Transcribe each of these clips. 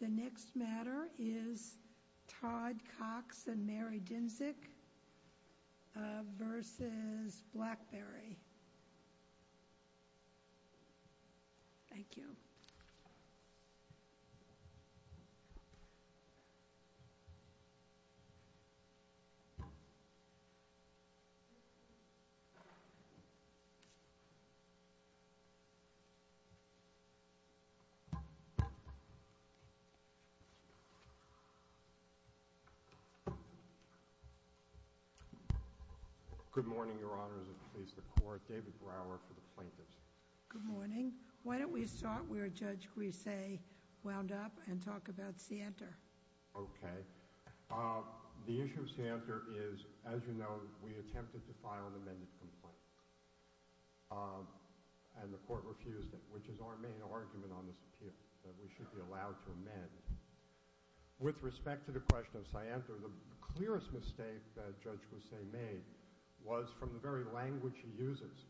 The next matter is Todd Cox and Mary Dinsick v. Blackberry. Thank you. Good morning, Your Honor, as it pleases the Court. David Brower for the Plaintiffs. Good morning. Why don't we start where Judge Grisei wound up and talk about Santer? Okay. The issue of Santer is, as you know, we attempted to file an amended complaint. And the Court refused it, which is our main argument on this appeal, that we should be allowed to amend. With respect to the question of Santer, the clearest mistake that Judge Grisei made was from the very language he uses,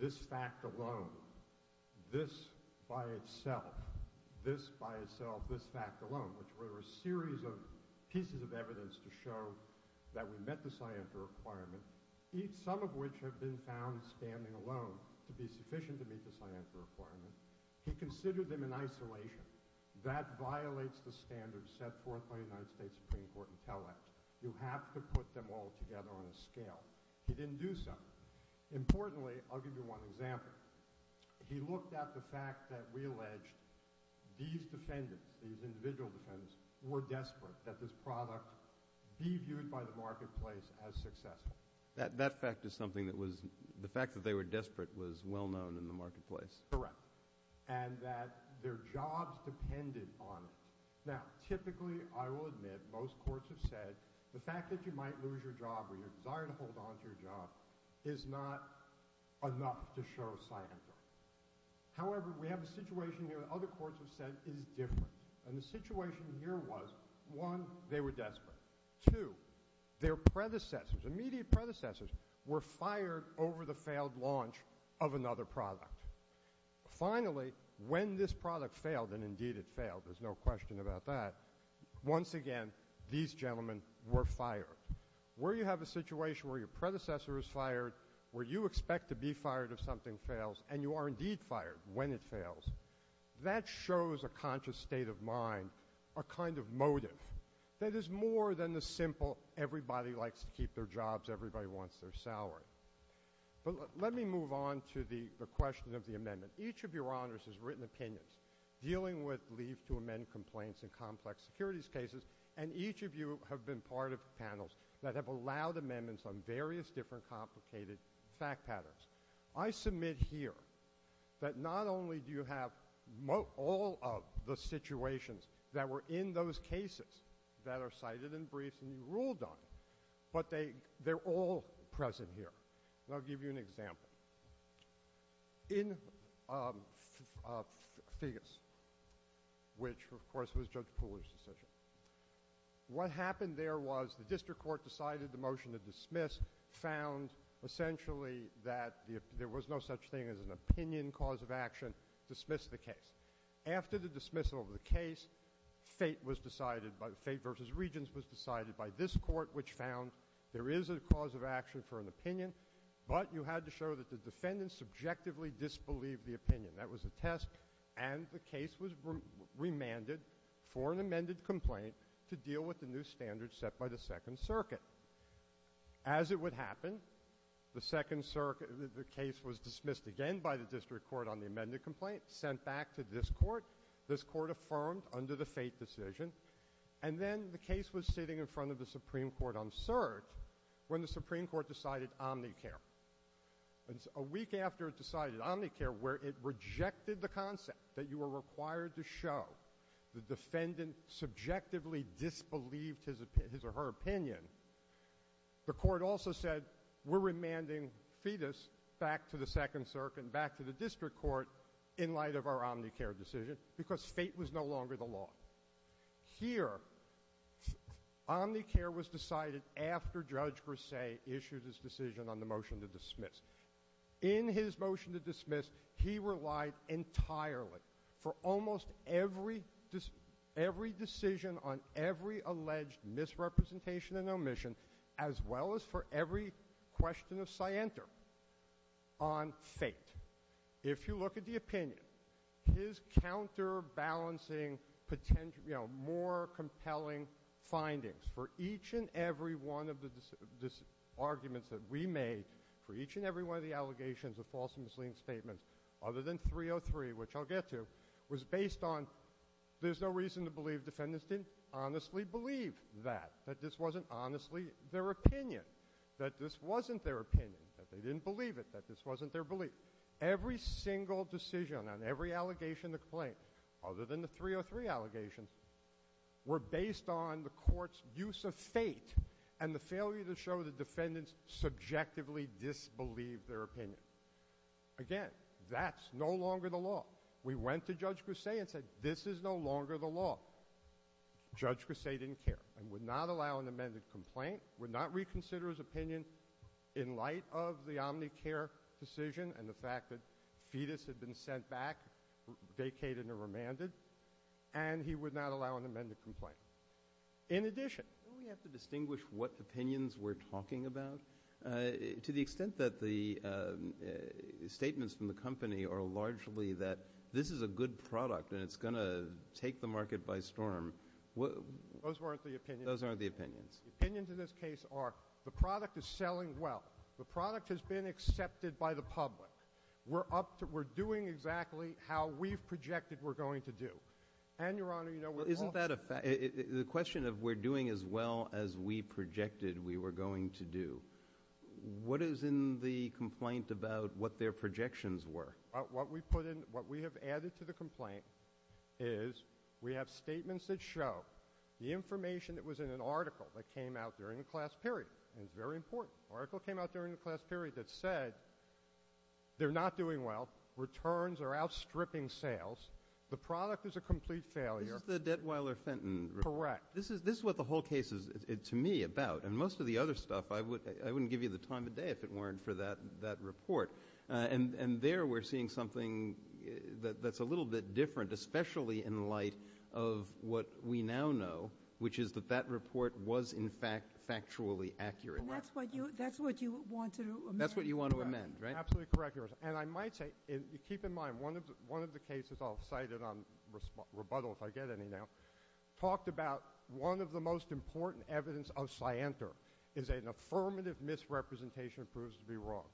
this fact alone, this by itself, this by itself, this fact alone, which were a series of pieces of evidence to show that we met the Santer requirement, some of which have been found standing alone to be sufficient to meet the Santer requirement. He considered them in isolation. That violates the standards set forth by the United States Supreme Court Intellect. You have to put them all together on a scale. He didn't do so. Importantly, I'll give you one example. He looked at the fact that we alleged these defendants, these individual defendants, were desperate that this product be viewed by the marketplace as successful. That fact is something that was—the fact that they were desperate was well known in the marketplace. Correct. And that their jobs depended on it. Now, typically, I will admit, most courts have said the fact that you might lose your job or your desire to hold on to your job is not enough to show Santer. However, we have a situation here that other courts have said is different. And the situation here was, one, they were desperate. Two, their predecessors, immediate predecessors, were fired over the failed launch of another product. Finally, when this product failed, and indeed it failed, there's no question about that, once again, these gentlemen were fired. Where you have a situation where your predecessor is fired, where you expect to be fired if something fails, and you are indeed fired when it fails, that shows a conscious state of mind, a kind of motive, that is more than the simple everybody likes to keep their jobs, everybody wants their salary. But let me move on to the question of the amendment. Each of your honors has written opinions dealing with leave to amend complaints in complex securities cases, and each of you have been part of panels that have allowed amendments on various different complicated fact patterns. I submit here that not only do you have all of the situations that were in those cases that are cited in briefs and you ruled on, but they're all present here. And I'll give you an example. In FIGAS, which of course was Judge Pooler's decision, what happened there was the district court decided the motion to dismiss found essentially that there was no such thing as an opinion cause of action, dismissed the case. After the dismissal of the case, fate versus regents was decided by this court, which found there is a cause of action for an opinion, but you had to show that the defendant subjectively disbelieved the opinion. That was a test, and the case was remanded for an amended complaint to deal with the new standards set by the Second Circuit. As it would happen, the case was dismissed again by the district court on the amended complaint, sent back to this court, this court affirmed under the fate decision, and then the case was sitting in front of the Supreme Court on search when the Supreme Court decided omnicare. A week after it decided omnicare, where it rejected the concept that you were required to show the defendant subjectively disbelieved his or her opinion, the court also said, we're remanding fetus back to the Second Circuit, back to the district court in light of our omnicare decision, because fate was no longer the law. Here, omnicare was decided after Judge Grisey issued his decision on the motion to dismiss. In his motion to dismiss, he relied entirely for almost every decision on every alleged misrepresentation and omission, as well as for every question of scienter on fate. If you look at the opinion, his counterbalancing, more compelling findings for each and every one of the arguments that we made, for each and every one of the allegations of false and misleading statements, other than 303, which I'll get to, was based on there's no reason to believe defendants didn't honestly believe that. That this wasn't honestly their opinion. That this wasn't their opinion. That they didn't believe it. That this wasn't their belief. Every single decision on every allegation of complaint, other than the 303 allegations, were based on the court's use of fate and the failure to show the defendants subjectively disbelieved their opinion. Again, that's no longer the law. We went to Judge Grisey and said, this is no longer the law. Judge Grisey didn't care and would not allow an amended complaint, would not reconsider his opinion in light of the omnicare decision and the fact that fetus had been sent back, vacated and remanded. And he would not allow an amended complaint. In addition. Don't we have to distinguish what opinions we're talking about? To the extent that the statements from the company are largely that this is a good product and it's going to take the market by storm. Those weren't the opinions. Those aren't the opinions. The opinions in this case are the product is selling well. The product has been accepted by the public. We're up to we're doing exactly how we've projected we're going to do. And your honor, you know, isn't that the question of we're doing as well as we projected we were going to do? What is in the complaint about what their projections were? What we put in what we have added to the complaint is we have statements that show the information that was in an article that came out during the class period. And it's very important. Oracle came out during the class period that said they're not doing well. Returns are outstripping sales. The product is a complete failure. The debt Weiler Fenton. Correct. This is this is what the whole case is to me about. And most of the other stuff I would I wouldn't give you the time of day if it weren't for that that report. And there we're seeing something that's a little bit different, especially in light of what we now know, which is that that report was, in fact, factually accurate. That's what you that's what you want to do. That's what you want to amend. Absolutely correct. And I might say, keep in mind, one of one of the cases I've cited on rebuttal, if I get any now, talked about one of the most important evidence of scienter is an affirmative misrepresentation proves to be wrong.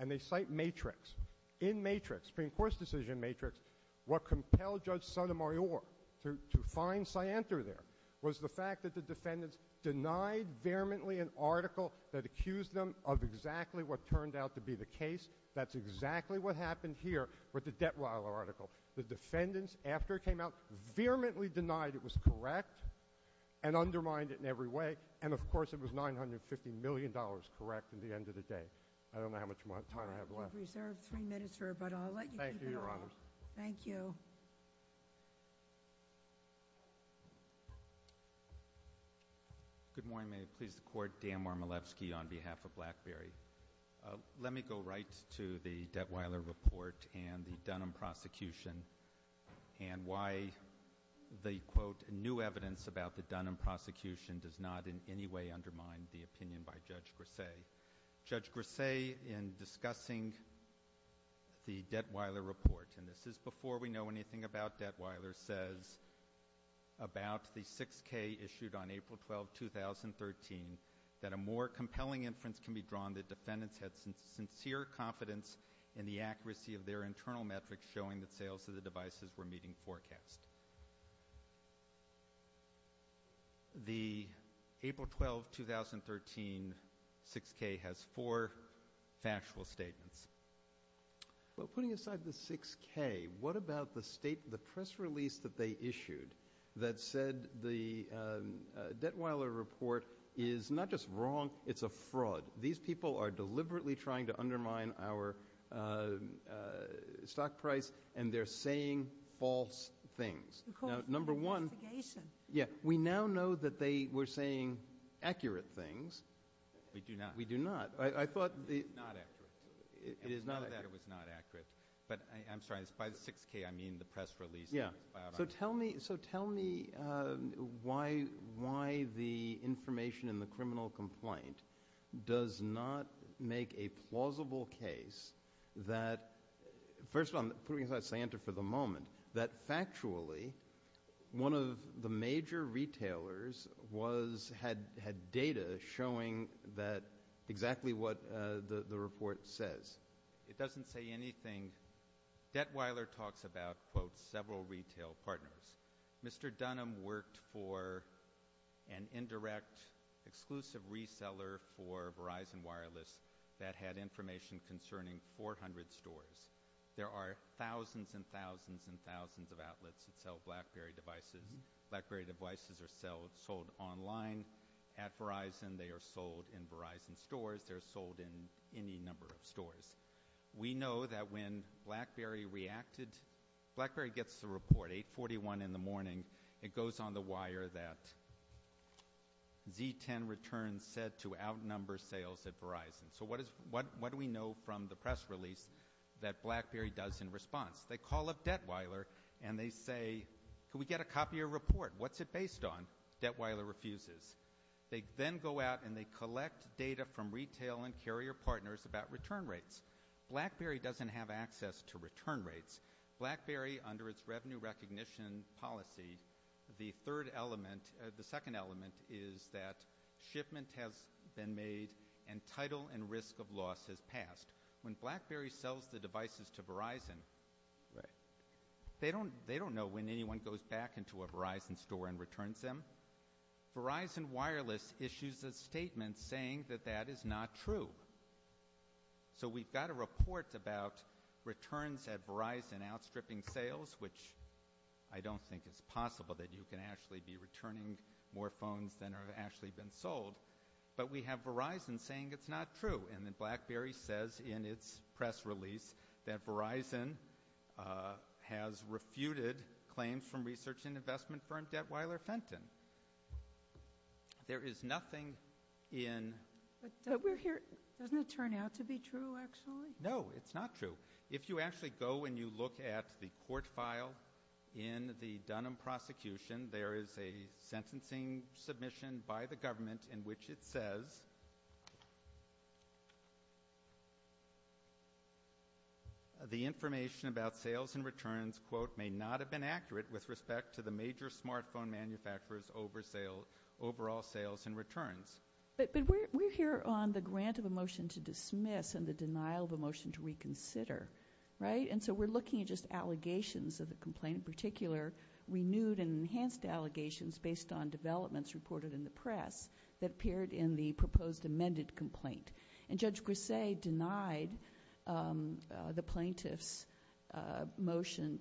And they cite matrix in matrix Supreme Court's decision matrix. What compelled Judge Sotomayor to find scienter there was the fact that the defendants denied vehemently an article that accused them of exactly what turned out to be the case. That's exactly what happened here with the debt Weiler article. The defendants, after it came out, vehemently denied it was correct and undermined it in every way. And, of course, it was nine hundred fifty million dollars. Correct. At the end of the day. I don't know how much time I have left. You have reserved three minutes, sir, but I'll let you keep it. Thank you, Your Honor. Thank you. Good morning. May it please the Court. Dan Warmilevsky on behalf of BlackBerry. Let me go right to the debt Weiler report and the Dunham prosecution and why the, quote, in discussing the debt Weiler report. And this is before we know anything about debt Weiler says about the 6K issued on April 12, 2013, that a more compelling inference can be drawn that defendants had sincere confidence in the accuracy of their internal metrics showing that sales of the devices were meeting forecast. The April 12, 2013 6K has four factual statements. Well, putting aside the 6K, what about the press release that they issued that said the debt Weiler report is not just wrong, it's a fraud. These people are deliberately trying to undermine our stock price, and they're saying false things. Of course. Investigation. Yeah. We now know that they were saying accurate things. We do not. We do not. It's not accurate. It is not accurate. None of that was not accurate. But I'm sorry. By 6K, I mean the press release. Yeah. So tell me why the information in the criminal complaint does not make a plausible case that – first of all, I'm putting aside Santa for the moment – that factually one of the major retailers had data showing exactly what the report says. It doesn't say anything. Debt Weiler talks about, quote, several retail partners. Mr. Dunham worked for an indirect exclusive reseller for Verizon Wireless that had information concerning 400 stores. There are thousands and thousands and thousands of outlets that sell BlackBerry devices. BlackBerry devices are sold online at Verizon. They are sold in Verizon stores. They're sold in any number of stores. We know that when BlackBerry reacted – BlackBerry gets the report 8.41 in the morning. It goes on the wire that Z10 returns said to outnumber sales at Verizon. So what do we know from the press release that BlackBerry does in response? They call up Debt Weiler and they say, can we get a copy of your report? What's it based on? Debt Weiler refuses. They then go out and they collect data from retail and carrier partners about return rates. BlackBerry doesn't have access to return rates. BlackBerry, under its revenue recognition policy, the third element – the second element is that shipment has been made and title and risk of loss has passed. When BlackBerry sells the devices to Verizon, they don't know when anyone goes back into a Verizon store and returns them. Verizon Wireless issues a statement saying that that is not true. So we've got a report about returns at Verizon outstripping sales, which I don't think it's possible that you can actually be returning more phones than have actually been sold. But we have Verizon saying it's not true. And then BlackBerry says in its press release that Verizon has refuted claims from research and investment firm Debt Weiler Fenton. There is nothing in – But we're here – doesn't it turn out to be true, actually? No, it's not true. If you actually go and you look at the court file in the Dunham prosecution, there is a sentencing submission by the government in which it says the information about sales and returns, quote, may not have been accurate with respect to the major smartphone manufacturers' overall sales and returns. But we're here on the grant of a motion to dismiss and the denial of a motion to reconsider, right? And so we're looking at just allegations of the complaint, in particular renewed and enhanced allegations based on developments reported in the press that appeared in the proposed amended complaint. And Judge Grisey denied the plaintiff's motion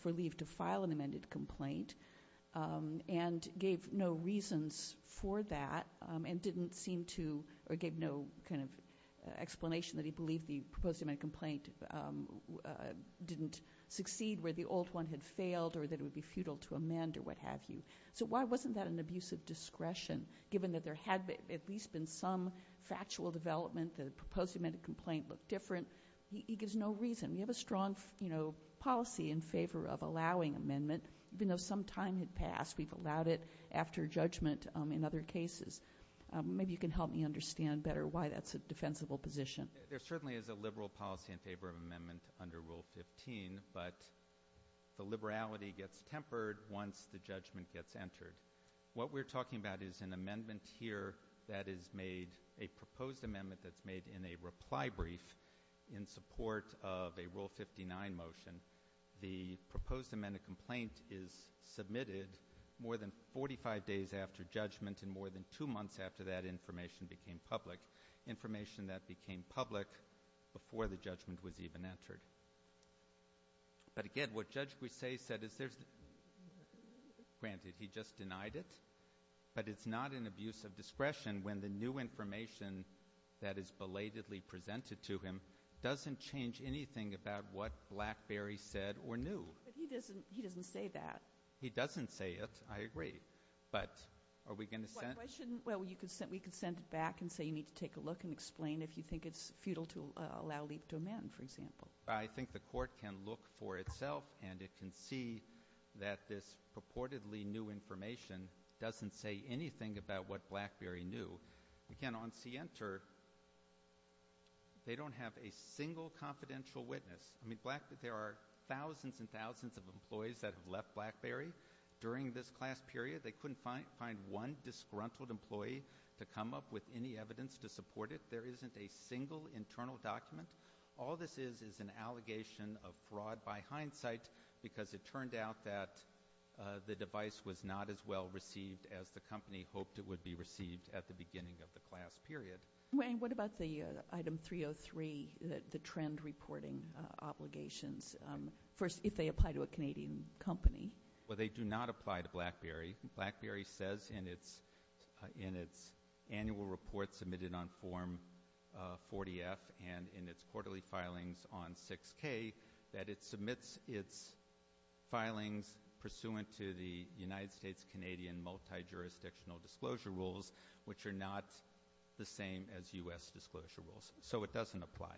for leave to file an amended complaint and gave no reasons for that and didn't seem to – there was no indication that he believed the proposed amended complaint didn't succeed where the old one had failed or that it would be futile to amend or what have you. So why wasn't that an abusive discretion, given that there had at least been some factual development, the proposed amended complaint looked different? He gives no reason. We have a strong policy in favor of allowing amendment, even though some time had passed. We've allowed it after judgment in other cases. Maybe you can help me understand better why that's a defensible position. There certainly is a liberal policy in favor of amendment under Rule 15, but the liberality gets tempered once the judgment gets entered. What we're talking about is an amendment here that is made, a proposed amendment that's made in a reply brief in support of a Rule 59 motion. The proposed amended complaint is submitted more than 45 days after judgment and more than two months after that information became public, information that became public before the judgment was even entered. But again, what Judge Grisey said is there's – granted, he just denied it, but it's not an abusive discretion when the new information that is belatedly presented to him doesn't change anything about what BlackBerry said or knew. But he doesn't say that. He doesn't say it, I agree. But are we going to send it? Why shouldn't – well, we could send it back and say you need to take a look and explain if you think it's futile to allow leave to amend, for example. I think the court can look for itself, and it can see that this purportedly new information doesn't say anything about what BlackBerry knew. Again, on CENTER, they don't have a single confidential witness. I mean, there are thousands and thousands of employees that have left BlackBerry during this class period. They couldn't find one disgruntled employee to come up with any evidence to support it. There isn't a single internal document. All this is is an allegation of fraud by hindsight because it turned out that the device was not as well received as the company hoped it would be received at the beginning of the class period. Wayne, what about the Item 303, the trend reporting obligations, if they apply to a Canadian company? Well, they do not apply to BlackBerry. BlackBerry says in its annual report submitted on Form 40-F and in its quarterly filings on 6-K that it submits its filings pursuant to the United States-Canadian multi-jurisdictional disclosure rules, which are not the same as U.S. disclosure rules. So it doesn't apply.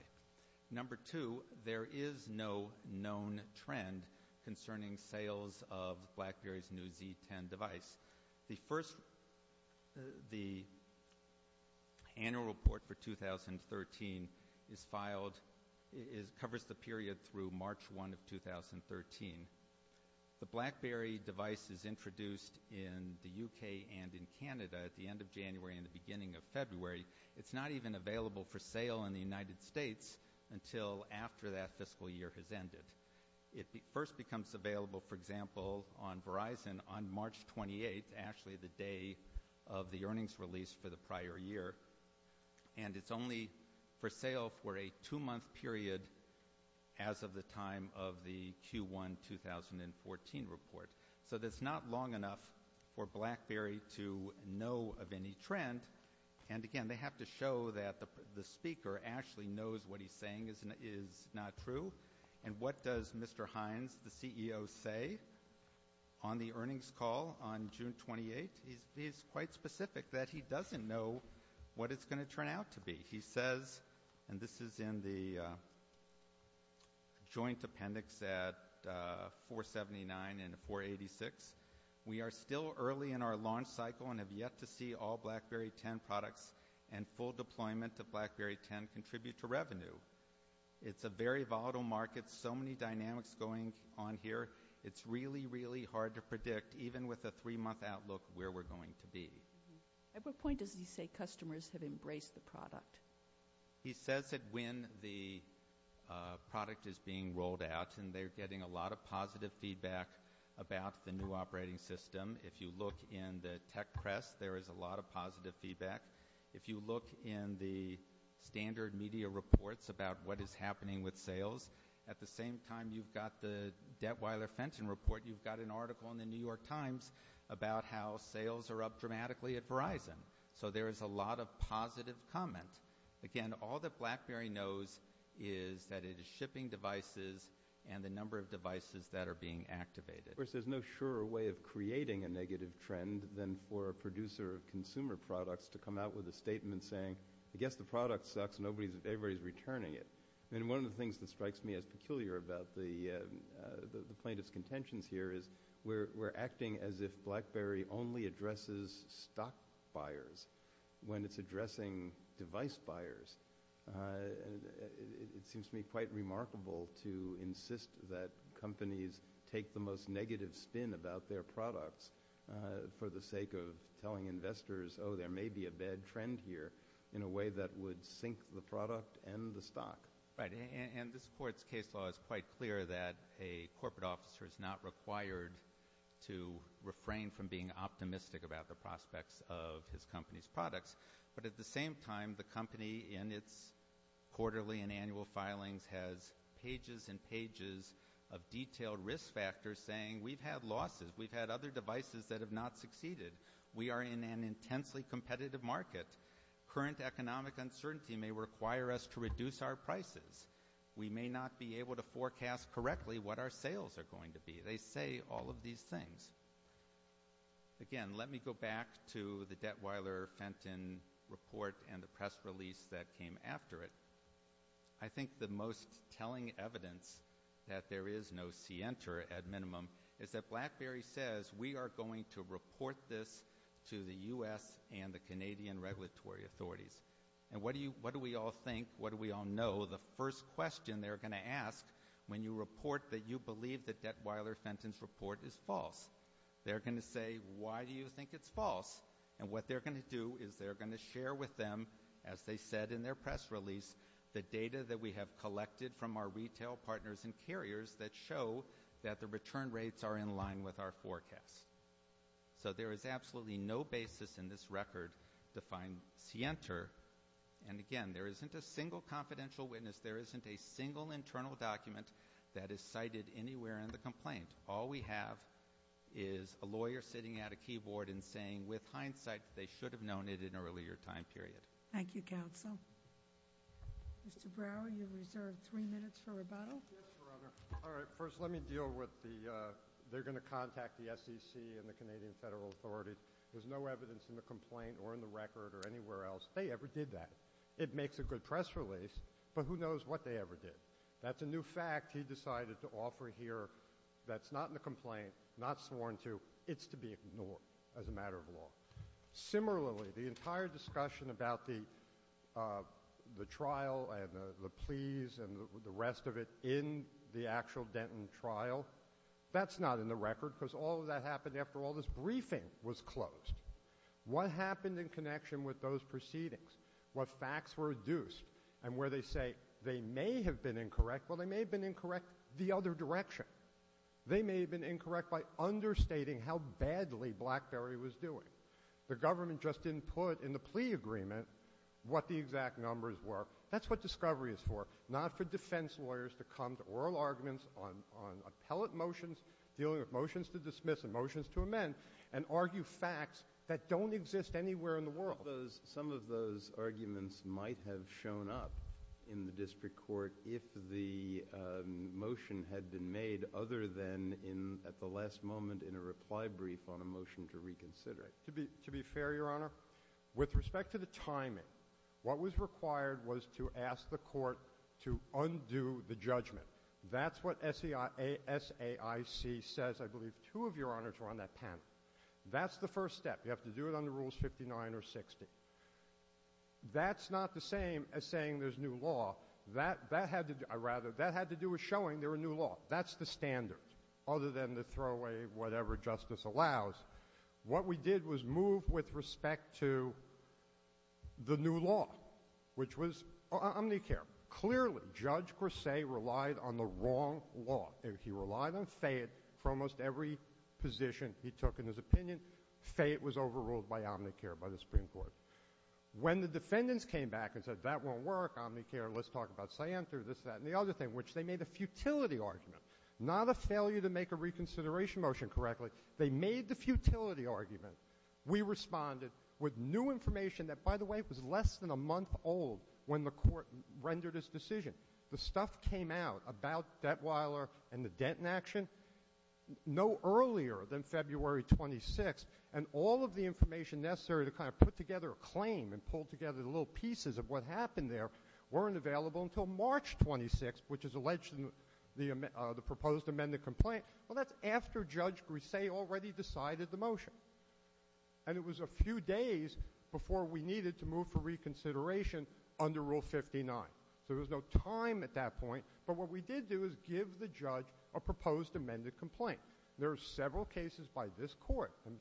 Number two, there is no known trend concerning sales of BlackBerry's new Z10 device. The annual report for 2013 covers the period through March 1 of 2013. The BlackBerry device is introduced in the U.K. and in Canada at the end of January and the beginning of February. It's not even available for sale in the United States until after that fiscal year has ended. It first becomes available, for example, on Verizon on March 28, actually the day of the earnings release for the prior year, and it's only for sale for a two-month period as of the time of the Q1 2014 report. So that's not long enough for BlackBerry to know of any trend. And, again, they have to show that the speaker actually knows what he's saying is not true and what does Mr. Hines, the CEO, say on the earnings call on June 28? He's quite specific that he doesn't know what it's going to turn out to be. He says, and this is in the joint appendix at 479 and 486, we are still early in our launch cycle and have yet to see all BlackBerry 10 products It's a very volatile market, so many dynamics going on here. It's really, really hard to predict, even with a three-month outlook, where we're going to be. At what point does he say customers have embraced the product? He says that when the product is being rolled out and they're getting a lot of positive feedback about the new operating system. If you look in the tech press, there is a lot of positive feedback. If you look in the standard media reports about what is happening with sales, at the same time you've got the Dettweiler-Fenton report, you've got an article in the New York Times about how sales are up dramatically at Verizon. So there is a lot of positive comment. Again, all that BlackBerry knows is that it is shipping devices and the number of devices that are being activated. Of course, there's no surer way of creating a negative trend than for a producer of consumer products to come out with a statement saying, I guess the product sucks and everybody is returning it. One of the things that strikes me as peculiar about the plaintiff's contentions here is we're acting as if BlackBerry only addresses stock buyers when it's addressing device buyers. It seems to me quite remarkable to insist that companies take the most negative spin about their products for the sake of telling investors, oh, there may be a bad trend here in a way that would sink the product and the stock. Right. And this court's case law is quite clear that a corporate officer is not required to refrain from being optimistic about the prospects of his company's products. But at the same time, the company in its quarterly and annual filings has pages and pages of detailed risk factors saying we've had losses, we've had other devices that have not succeeded, we are in an intensely competitive market, current economic uncertainty may require us to reduce our prices, we may not be able to forecast correctly what our sales are going to be. They say all of these things. Again, let me go back to the Detweiler-Fenton report and the press release that came after it. I think the most telling evidence that there is no cienter at minimum is that BlackBerry says we are going to report this to the U.S. and the Canadian regulatory authorities. And what do we all think, what do we all know? The first question they're going to ask when you report that you believe that Detweiler-Fenton's report is false, they're going to say, why do you think it's false? And what they're going to do is they're going to share with them, as they said in their press release, the data that we have collected from our retail partners and carriers that show that the return rates are in line with our forecast. So there is absolutely no basis in this record to find cienter. And again, there isn't a single confidential witness, there isn't a single internal document that is cited anywhere in the complaint. All we have is a lawyer sitting at a keyboard and saying, with hindsight, that they should have known it at an earlier time period. Thank you, counsel. Mr. Brower, you're reserved three minutes for rebuttal. Yes, Your Honor. All right, first let me deal with the they're going to contact the SEC and the Canadian federal authorities. There's no evidence in the complaint or in the record or anywhere else. They ever did that. It makes a good press release, but who knows what they ever did. That's a new fact he decided to offer here that's not in the complaint, not sworn to, it's to be ignored as a matter of law. Similarly, the entire discussion about the trial and the pleas and the rest of it in the actual Denton trial, that's not in the record because all of that happened after all this briefing was closed. What happened in connection with those proceedings? What facts were reduced? And where they say they may have been incorrect, well, they may have been incorrect the other direction. They may have been incorrect by understating how badly BlackBerry was doing. The government just didn't put in the plea agreement what the exact numbers were. That's what discovery is for, not for defense lawyers to come to oral arguments on appellate motions, dealing with motions to dismiss and motions to amend and argue facts that don't exist anywhere in the world. Some of those arguments might have shown up in the district court if the motion had been made other than at the last moment in a reply brief on a motion to reconsider it. To be fair, Your Honor, with respect to the timing, what was required was to ask the court to undo the judgment. That's what SAIC says. I believe two of Your Honors were on that panel. That's the first step. You have to do it under Rules 59 or 60. That's not the same as saying there's new law. That had to do with showing there was new law. That's the standard, other than to throw away whatever justice allows. What we did was move with respect to the new law, which was Omnicare. Clearly, Judge Grasse relied on the wrong law. He relied on Fayette for almost every position he took in his opinion. Fayette was overruled by Omnicare, by the Supreme Court. When the defendants came back and said, that won't work, Omnicare, let's talk about Scienter, this, that, and the other thing, which they made a futility argument, not a failure to make a reconsideration motion correctly. They made the futility argument. We responded with new information that, by the way, was less than a month old when the court rendered its decision. The stuff came out about Detweiler and the Denton action no earlier than February 26th, and all of the information necessary to kind of put together a claim and pull together the little pieces of what happened there weren't available until March 26th, which is alleged in the proposed amended complaint. Well, that's after Judge Grasse already decided the motion, and it was a few days before we needed to move for reconsideration under Rule 59. So there was no time at that point, but what we did do is give the judge a proposed amended complaint. There are several cases by this court and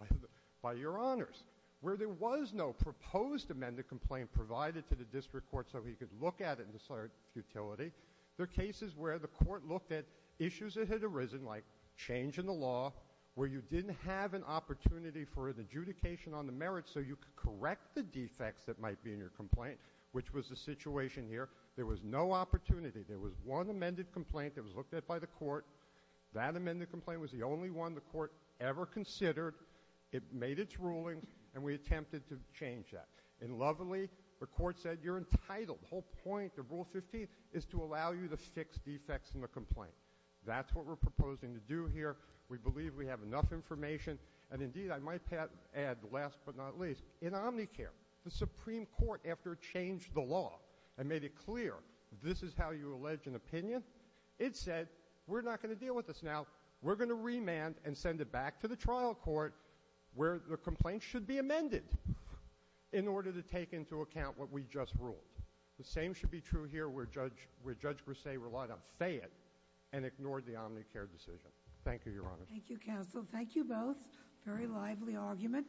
by your honors where there was no proposed amended complaint provided to the district court so he could look at it and decide futility. There are cases where the court looked at issues that had arisen, like change in the law where you didn't have an opportunity for an adjudication on the merits so you could correct the defects that might be in your complaint, which was the situation here. There was no opportunity. There was one amended complaint that was looked at by the court. That amended complaint was the only one the court ever considered. It made its ruling, and we attempted to change that. And lovingly, the court said you're entitled. The whole point of Rule 15 is to allow you to fix defects in the complaint. That's what we're proposing to do here. We believe we have enough information, and indeed, I might add, last but not least, in Omnicare, the Supreme Court, after it changed the law and made it clear this is how you allege an opinion, it said we're not going to deal with this now. We're going to remand and send it back to the trial court where the complaint should be amended in order to take into account what we just ruled. The same should be true here where Judge Grisaille relied on Fayette and ignored the Omnicare decision. Thank you, Your Honor. Thank you, counsel. Thank you both. Very lively argument.